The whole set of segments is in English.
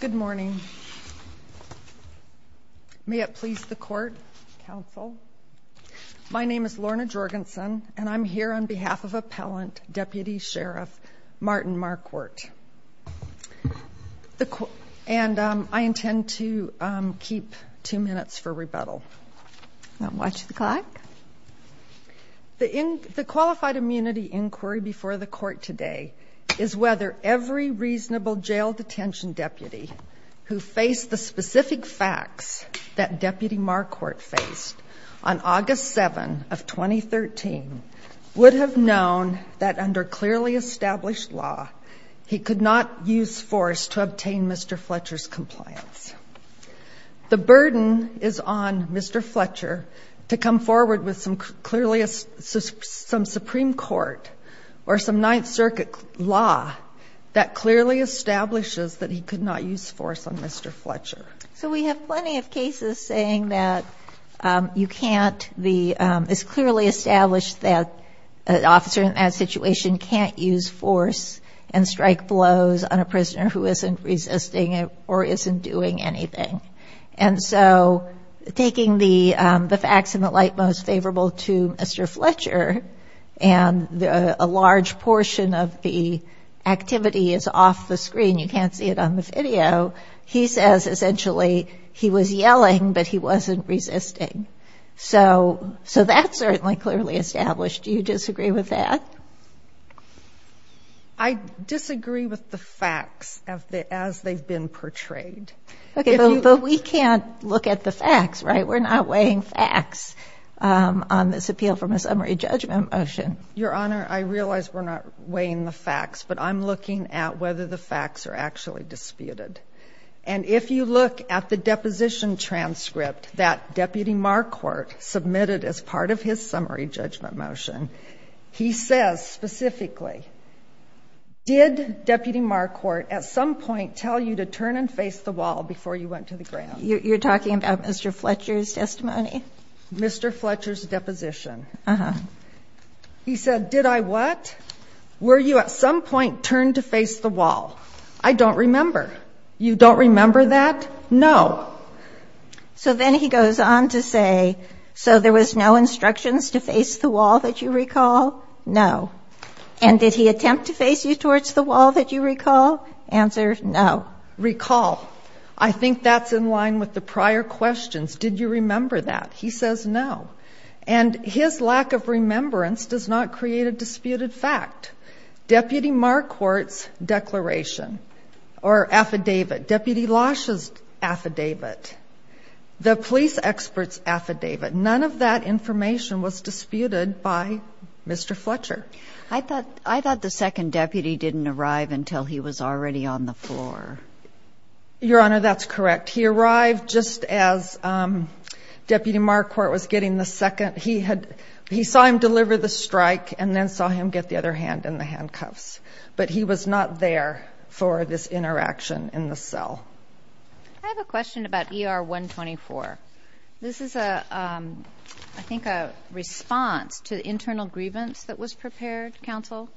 Good morning. May it please the court, counsel. My name is Lorna Jorgensen, and I'm here on behalf of Appellant Deputy Sheriff Martin Marquardt. And I intend to keep two minutes for rebuttal. The qualified immunity inquiry before the court today is whether every reasonable jail detention deputy who faced the specific facts that Deputy Marquardt faced on August 7 of 2013 would have known that under clearly established law, he could not use force to use force on Mr. Fletcher to come forward with some clearly, some Supreme Court or some Ninth Circuit law that clearly establishes that he could not use force on Mr. Fletcher. So we have plenty of cases saying that you can't, it's clearly established that an officer in that situation can't use force and strike blows on a prisoner who isn't resisting or isn't doing anything. And so taking the facts in the light most favorable to Mr. Fletcher and a large portion of the activity is off the screen, you can't see it on the video, he says essentially he was yelling, but he wasn't resisting. So that's certainly clearly established. Do you disagree with that? I disagree with the facts as they've been portrayed. Okay, but we can't look at the facts, right? We're not weighing facts on this appeal from a summary judgment motion. Your Honor, I realize we're not weighing the facts, but I'm looking at whether the facts are actually disputed. And if you look at the deposition transcript that Deputy Marquardt submitted as part of his summary judgment motion, he says specifically, did Deputy Marquardt at some point tell you to turn and face the wall before you went to the ground? You're talking about Mr. Fletcher's testimony? Mr. Fletcher's deposition. Uh-huh. He said, did I what? Were you at some point turned to face the wall? I don't remember. You don't remember that? No. So then he goes on to say, so there was no instructions to face the wall that you recall? No. And did he attempt to face you towards the wall that you recall? Answer, no. Recall. I think that's in line with the prior questions. Did you remember that? He says no. And his lack of remembrance does not create a disputed fact. Deputy Marquardt's declaration or affidavit, Deputy Losh's affidavit, the police expert's affidavit. None of that information was disputed by Mr. Fletcher. I thought the second deputy didn't arrive until he was already on the floor. Your Honor, that's correct. He arrived just as Deputy Marquardt was getting the second. He saw him deliver the strike and then saw him get the other hand in the handcuffs. But he was not there for this interaction in the cell. I have a question about ER 124. This is, I think, a response to the internal grievance that was prepared, counsel.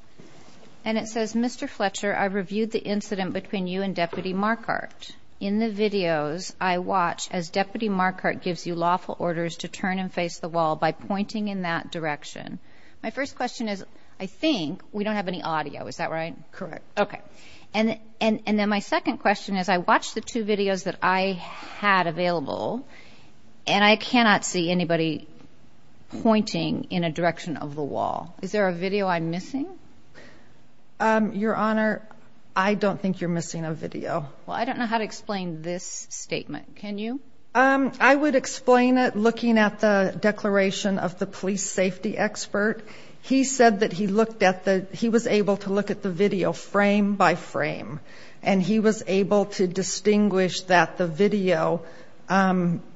And it says, Mr. Fletcher, I reviewed the incident between you and Deputy Marquardt. In the videos, I watch as Deputy Marquardt gives you lawful orders to turn and face the wall by pointing in that direction. My first question is, I think we don't have any audio. Is that right? Correct. Okay. And then my second question is, I watched the two videos that I had available, and I cannot see anybody pointing in a direction of the wall. Is there a video I'm missing? Your Honor, I don't think you're missing a video. Well, I don't know how to explain this statement. Can you? I would explain it looking at the declaration of the police safety expert. He said that he was able to look at the video frame by frame, and he was able to distinguish that the video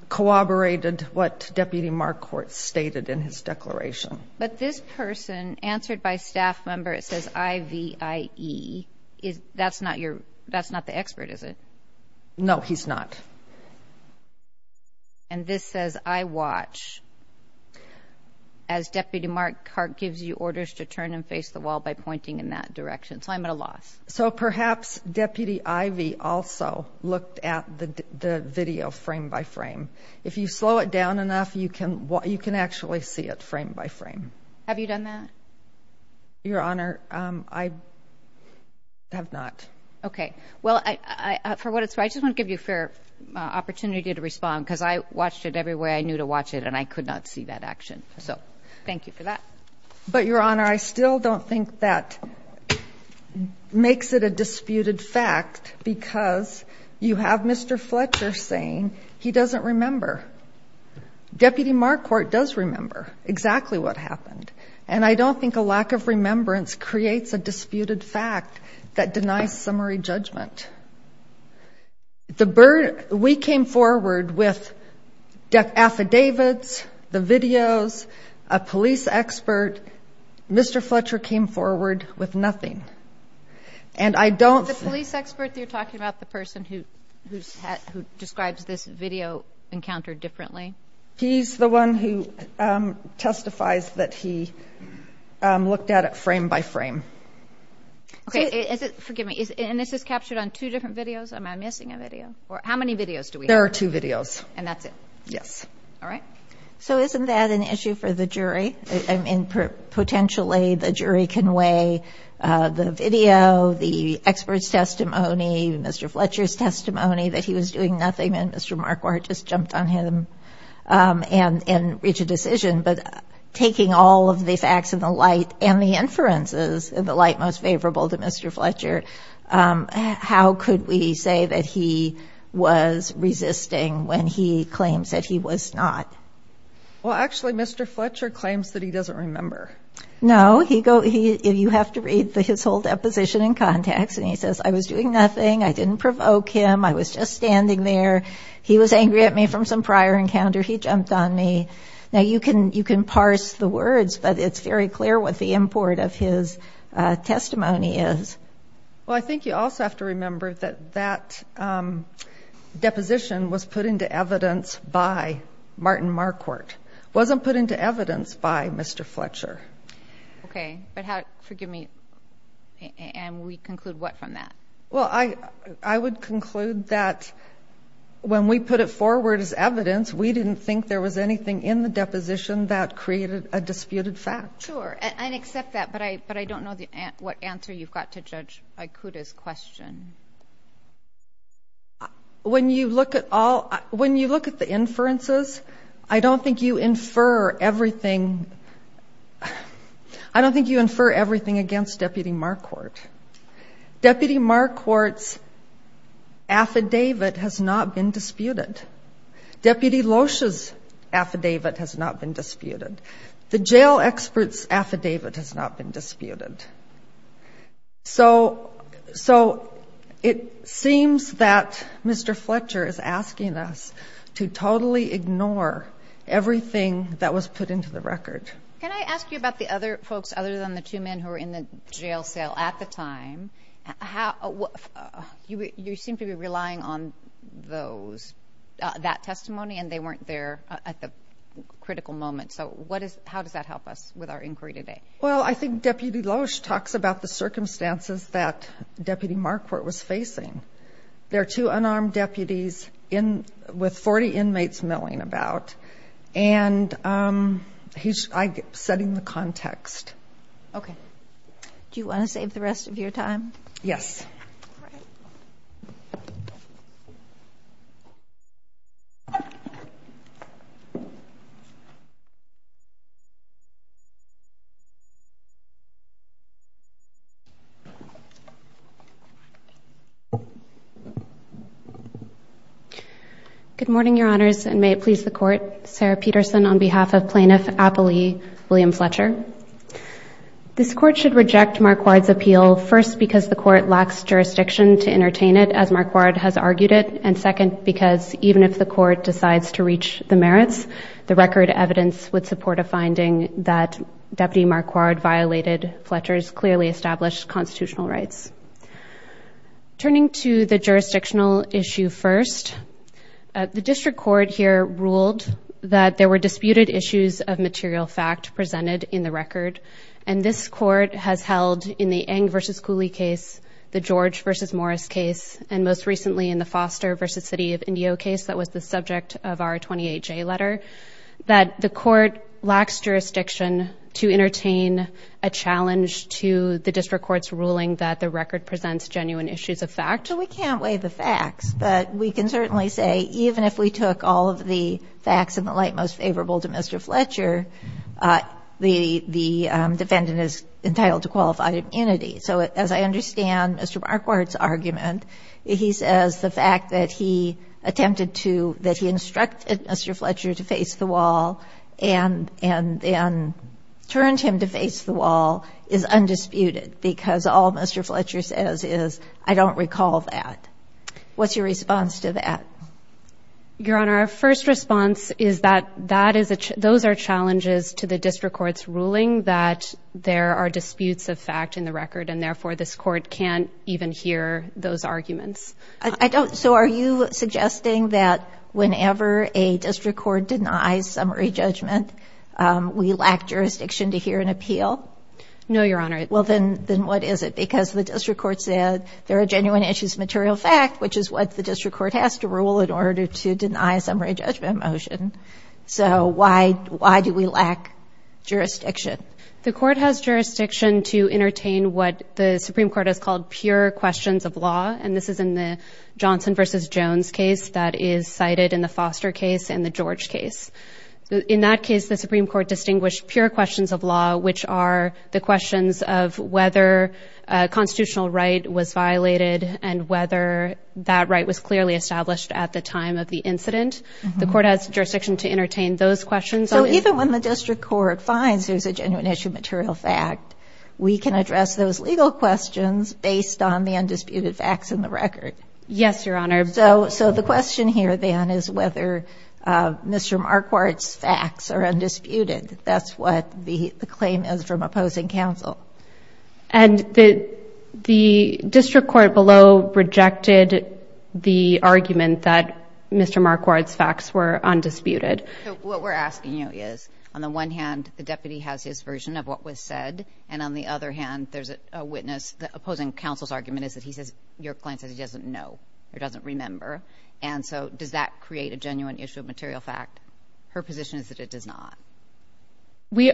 corroborated what Deputy Marquardt stated in his declaration. But this person, answered by staff member, it says I-V-I-E. That's not the expert, is it? No, he's not. And this says, I watch as Deputy Marquardt gives you orders to turn and face the wall by pointing in that direction. So I'm at a loss. So perhaps Deputy Ivey also looked at the video frame by frame. If you slow it down enough, you can actually see it frame by frame. Have you done that? Your Honor, I have not. Okay. Well, for what it's worth, I just want to give you a fair opportunity to respond, because I watched it every way I knew to watch it, and I could not see that action. So thank you for that. But, Your Honor, I still don't think that makes it a disputed fact, because you have Mr. Fletcher saying he doesn't remember. Deputy Marquardt does remember exactly what happened. And I don't think a lack of remembrance creates a disputed fact that denies summary judgment. We came forward with affidavits, the videos, a police expert. Mr. Fletcher came forward with nothing. The police expert that you're talking about, the person who describes this video encounter differently? He's the one who testifies that he looked at it frame by frame. Okay. Forgive me. And this is captured on two different videos? Am I missing a video? How many videos do we have? There are two videos. And that's it? Yes. All right. So isn't that an issue for the jury? I mean, potentially the jury can weigh the video, the expert's testimony, Mr. Fletcher's testimony that he was doing nothing, and Mr. Marquardt just jumped on him and reached a decision. But taking all of the facts in the light and the inferences in the light most favorable to Mr. Fletcher, how could we say that he was resisting when he claims that he was not? Well, actually, Mr. Fletcher claims that he doesn't remember. No. You have to read his whole deposition in context, and he says, I was doing nothing, I didn't provoke him, I was just standing there, he was angry at me from some prior encounter, he jumped on me. Now, you can parse the words, but it's very clear what the import of his testimony is. Well, I think you also have to remember that that deposition was put into evidence by Martin Marquardt. It wasn't put into evidence by Mr. Fletcher. Okay. But forgive me, and we conclude what from that? Well, I would conclude that when we put it forward as evidence, we didn't think there was anything in the deposition that created a disputed fact. Sure, I accept that, but I don't know what answer you've got to Judge Ikuda's question. When you look at the inferences, I don't think you infer everything against Deputy Marquardt. Deputy Marquardt's affidavit has not been disputed. Deputy Loesch's affidavit has not been disputed. The jail expert's affidavit has not been disputed. So it seems that Mr. Fletcher is asking us to totally ignore everything that was put into the record. Can I ask you about the other folks other than the two men who were in the jail cell at the time? You seem to be relying on those, that testimony, and they weren't there at the critical moment. So how does that help us with our inquiry today? Well, I think Deputy Loesch talks about the circumstances that Deputy Marquardt was facing. There are two unarmed deputies with 40 inmates milling about, and he's setting the context. Okay. Do you want to save the rest of your time? Yes. Good morning, Your Honors, and may it please the Court. Sarah Peterson on behalf of Plaintiff Appley William Fletcher. This Court should reject Marquardt's appeal, first because the Court lacks jurisdiction to entertain it, as Marquardt has argued it, and second because even if the Court decides to reach the merits, the record evidence would support a finding that Deputy Marquardt violated Fletcher's clearly established constitutional rights. Turning to the jurisdictional issue first, the District Court here ruled that there were disputed issues of material fact presented in the record, and this Court has held in the Eng v. Cooley case, the George v. Morris case, and most recently in the Foster v. City of Indio case that was the subject of our 28-J letter, that the Court lacks jurisdiction to entertain a challenge to the District Court's ruling that the record presents genuine issues of fact. So we can't weigh the facts, but we can certainly say even if we took all of the facts in the light most favorable to Mr. Fletcher, the defendant is entitled to qualified immunity. So as I understand Mr. Marquardt's argument, he says the fact that he attempted to, that he instructed Mr. Fletcher to face the wall and then turned him to face the wall is undisputed because all Mr. Fletcher says is, I don't recall that. What's your response to that? Your Honor, our first response is that those are challenges to the District Court's ruling that there are disputes of fact in the record, and therefore this Court can't even hear those arguments. So are you suggesting that whenever a District Court denies summary judgment, we lack jurisdiction to hear an appeal? No, Your Honor. Well, then what is it? Because the District Court said there are genuine issues of material fact, which is what the District Court has to rule in order to deny a summary judgment motion. So why do we lack jurisdiction? The Court has jurisdiction to entertain what the Supreme Court has called pure questions of law, and this is in the Johnson v. Jones case that is cited in the Foster case and the George case. In that case, the Supreme Court distinguished pure questions of law, which are the questions of whether a constitutional right was violated and whether that right was clearly established at the time of the incident. The Court has jurisdiction to entertain those questions. So even when the District Court finds there's a genuine issue of material fact, we can address those legal questions based on the undisputed facts in the record? Yes, Your Honor. So the question here, then, is whether Mr. Marquardt's facts are undisputed. That's what the claim is from opposing counsel. And the District Court below rejected the argument that Mr. Marquardt's facts were undisputed. What we're asking you is, on the one hand, the deputy has his version of what was said, and on the other hand, there's a witness. The opposing counsel's argument is that your client says he doesn't know or doesn't remember. And so does that create a genuine issue of material fact? Her position is that it does not.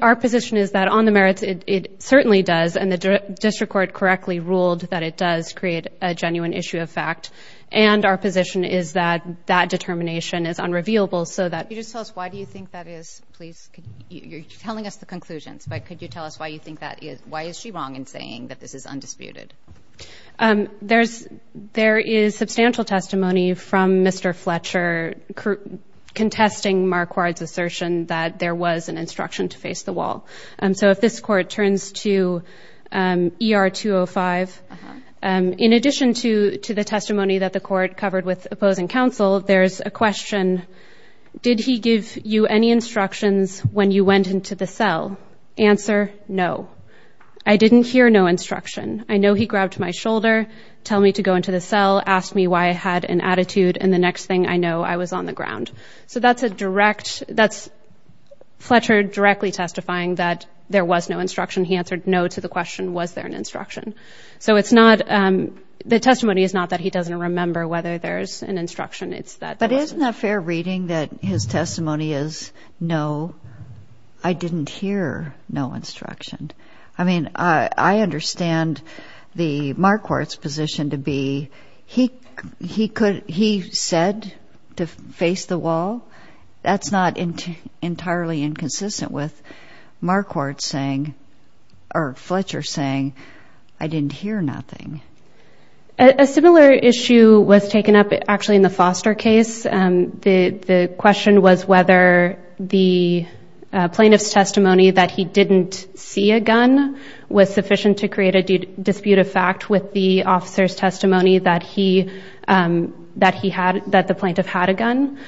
Our position is that on the merits, it certainly does, and the District Court correctly ruled that it does create a genuine issue of fact. And our position is that that determination is unrevealable so that— Could you just tell us why do you think that is, please? You're telling us the conclusions, but could you tell us why you think that is? Why is she wrong in saying that this is undisputed? There is substantial testimony from Mr. Fletcher contesting Marquardt's assertion that there was an instruction to face the wall. So if this Court turns to ER 205, in addition to the testimony that the Court covered with opposing counsel, there's a question, did he give you any instructions when you went into the cell? Answer, no. I didn't hear no instruction. I know he grabbed my shoulder, told me to go into the cell, asked me why I had an attitude, and the next thing I know, I was on the ground. So that's a direct—that's Fletcher directly testifying that there was no instruction. He answered no to the question, was there an instruction? So it's not—the testimony is not that he doesn't remember whether there's an instruction. But isn't it fair reading that his testimony is, no, I didn't hear no instruction? I mean, I understand the Marquardt's position to be, he said to face the wall? That's not entirely inconsistent with Marquardt saying, or Fletcher saying, I didn't hear nothing. A similar issue was taken up, actually, in the Foster case. The question was whether the plaintiff's testimony that he didn't see a gun was sufficient to create a dispute of fact with the officer's testimony that the plaintiff had a gun.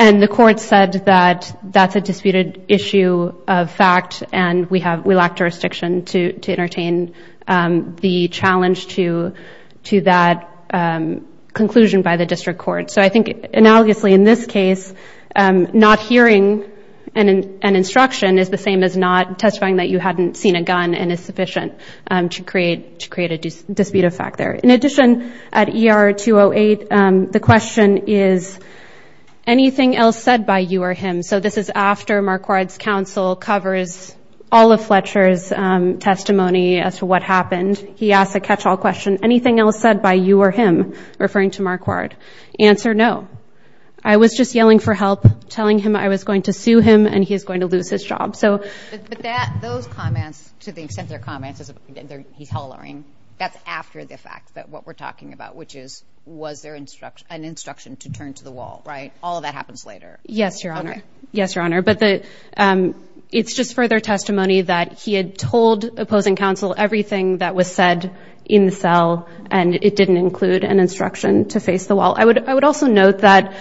And the Court said that that's a disputed issue of fact, and we lack jurisdiction to entertain the challenge to that conclusion by the District Court. So I think analogously in this case, not hearing an instruction is the same as not testifying that you hadn't seen a gun and is sufficient to create a dispute of fact there. In addition, at ER 208, the question is, anything else said by you or him? So this is after Marquardt's counsel covers all of Fletcher's testimony as to what happened. He asks a catch-all question, anything else said by you or him referring to Marquardt? Answer, no. I was just yelling for help, telling him I was going to sue him and he's going to lose his job. But those comments, to the extent they're comments, he's hollering, that's after the fact that what we're talking about, which is, was there an instruction to turn to the wall, right? All of that happens later. Yes, Your Honor. Yes, Your Honor. But it's just further testimony that he had told opposing counsel everything that was said in the cell, and it didn't include an instruction to face the wall. I would also note that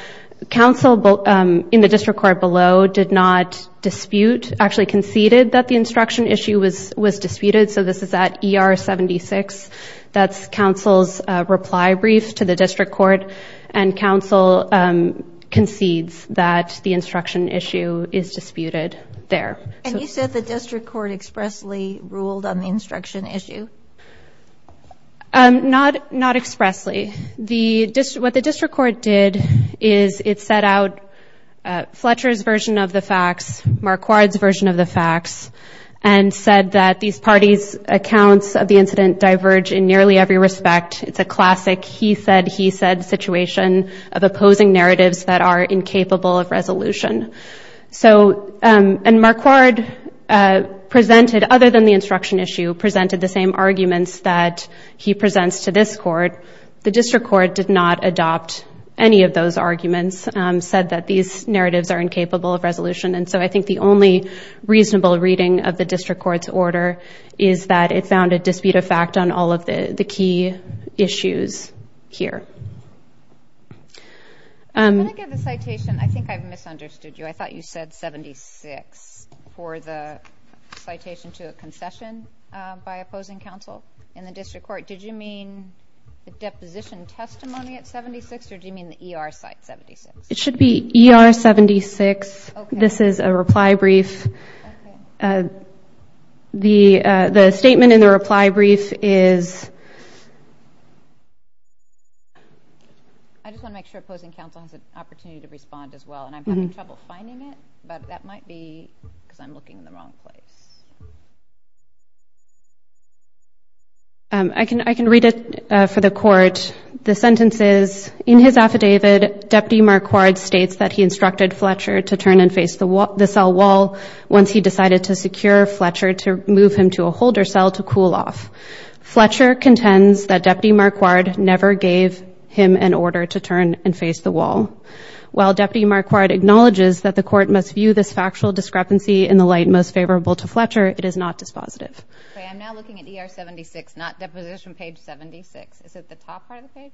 counsel in the District Court below did not dispute, actually conceded that the instruction issue was disputed, so this is at ER 76. That's counsel's reply brief to the District Court, and counsel concedes that the instruction issue is disputed there. And you said the District Court expressly ruled on the instruction issue? Not expressly. What the District Court did is it set out Fletcher's version of the facts, Marquardt's version of the facts, and said that these parties' accounts of the incident diverge in nearly every respect. It's a classic he-said-he-said situation of opposing narratives that are incapable of resolution. So, and Marquardt presented, other than the instruction issue, presented the same arguments that he presents to this court. The District Court did not adopt any of those arguments, said that these narratives are incapable of resolution. And so I think the only reasonable reading of the District Court's order is that it found a dispute of fact on all of the key issues here. Can I give a citation? I think I've misunderstood you. I thought you said 76 for the citation to a concession by opposing counsel in the District Court. Did you mean the deposition testimony at 76, or did you mean the ER site 76? It should be ER 76. This is a reply brief. The statement in the reply brief is... I just want to make sure opposing counsel has an opportunity to respond as well, and I'm having trouble finding it, but that might be because I'm looking in the wrong place. I can read it for the court. The sentence is, in his affidavit, Deputy Marquardt states that he instructed Fletcher to turn and face the cell wall once he decided to secure Fletcher to move him to a holder cell to cool off. Fletcher contends that Deputy Marquardt never gave him an order to turn and face the wall. While Deputy Marquardt acknowledges that the court must view this factual discrepancy in the light most favorable to Fletcher, it is not dispositive. Okay, I'm now looking at ER 76, not deposition page 76. Is it the top part of the page?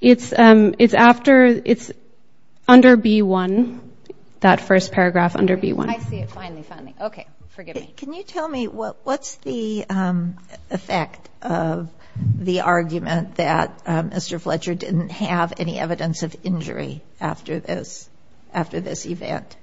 It's under B1, that first paragraph under B1. I see it finally, finally. Okay, forgive me. Can you tell me what's the effect of the argument that Mr. Fletcher didn't have any evidence of injury after this event?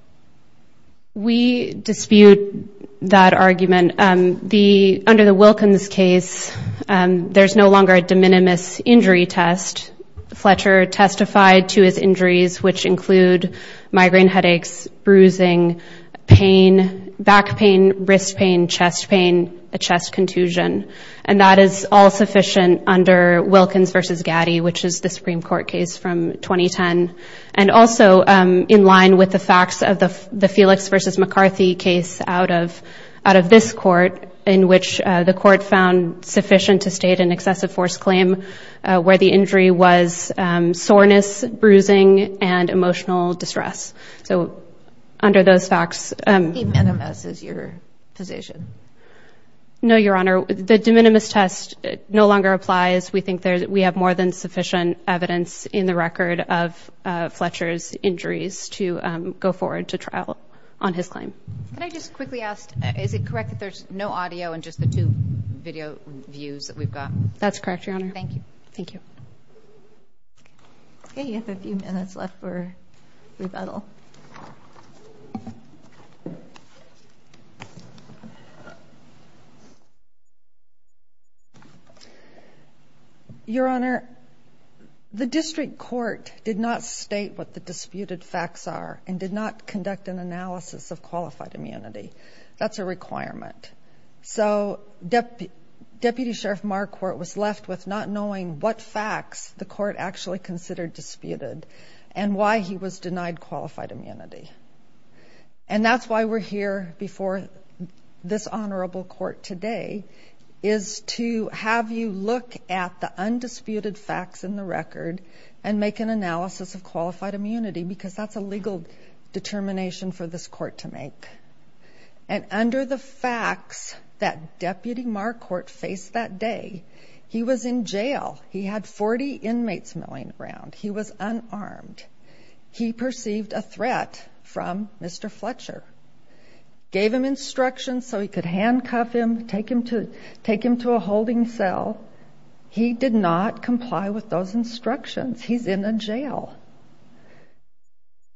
We dispute that argument. Under the Wilkins case, there's no longer a de minimis injury test. Fletcher testified to his injuries, which include migraine headaches, bruising, pain, back pain, wrist pain, chest pain, a chest contusion. And that is all sufficient under Wilkins v. Gatti, which is the Supreme Court case from 2010. And also, in line with the facts of the Felix v. McCarthy case out of this court, in which the court found sufficient to state an excessive force claim where the injury was soreness, bruising, and emotional distress. So under those facts. A de minimis is your position? No, Your Honor. The de minimis test no longer applies. We think we have more than sufficient evidence in the record of Fletcher's injuries to go forward to trial on his claim. Can I just quickly ask, is it correct that there's no audio and just the two video views that we've got? That's correct, Your Honor. Thank you. Thank you. Okay, you have a few minutes left for rebuttal. Your Honor, the district court did not state what the disputed facts are and did not conduct an analysis of qualified immunity. That's a requirement. So Deputy Sheriff Marquardt was left with not knowing what facts the court actually considered disputed and why he was denied qualified immunity. And that's why we're here before this honorable court today, is to have you look at the undisputed facts in the record and make an analysis of qualified immunity, because that's a legal determination for this court to make. And under the facts that Deputy Marquardt faced that day, he was in jail. He had 40 inmates milling around. He was unarmed. He perceived a threat from Mr. Fletcher. Gave him instructions so he could handcuff him, take him to a holding cell. He did not comply with those instructions. He's in a jail.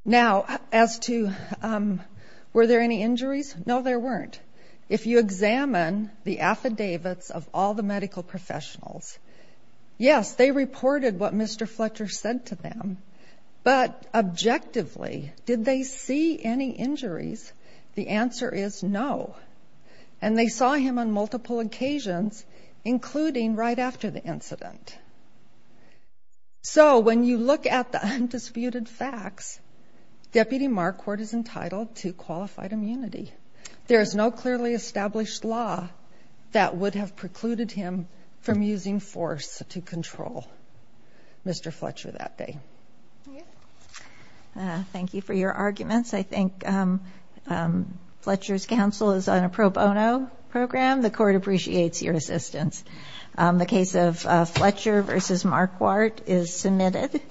Now, as to were there any injuries, no, there weren't. If you examine the affidavits of all the medical professionals, yes, they reported what Mr. Fletcher said to them. But objectively, did they see any injuries? The answer is no. And they saw him on multiple occasions, including right after the incident. So when you look at the undisputed facts, Deputy Marquardt is entitled to qualified immunity. There is no clearly established law that would have precluded him from using force to control Mr. Fletcher that day. Thank you for your arguments. I think Fletcher's counsel is on a pro bono program. The court appreciates your assistance. The case of Fletcher v. Marquardt is submitted.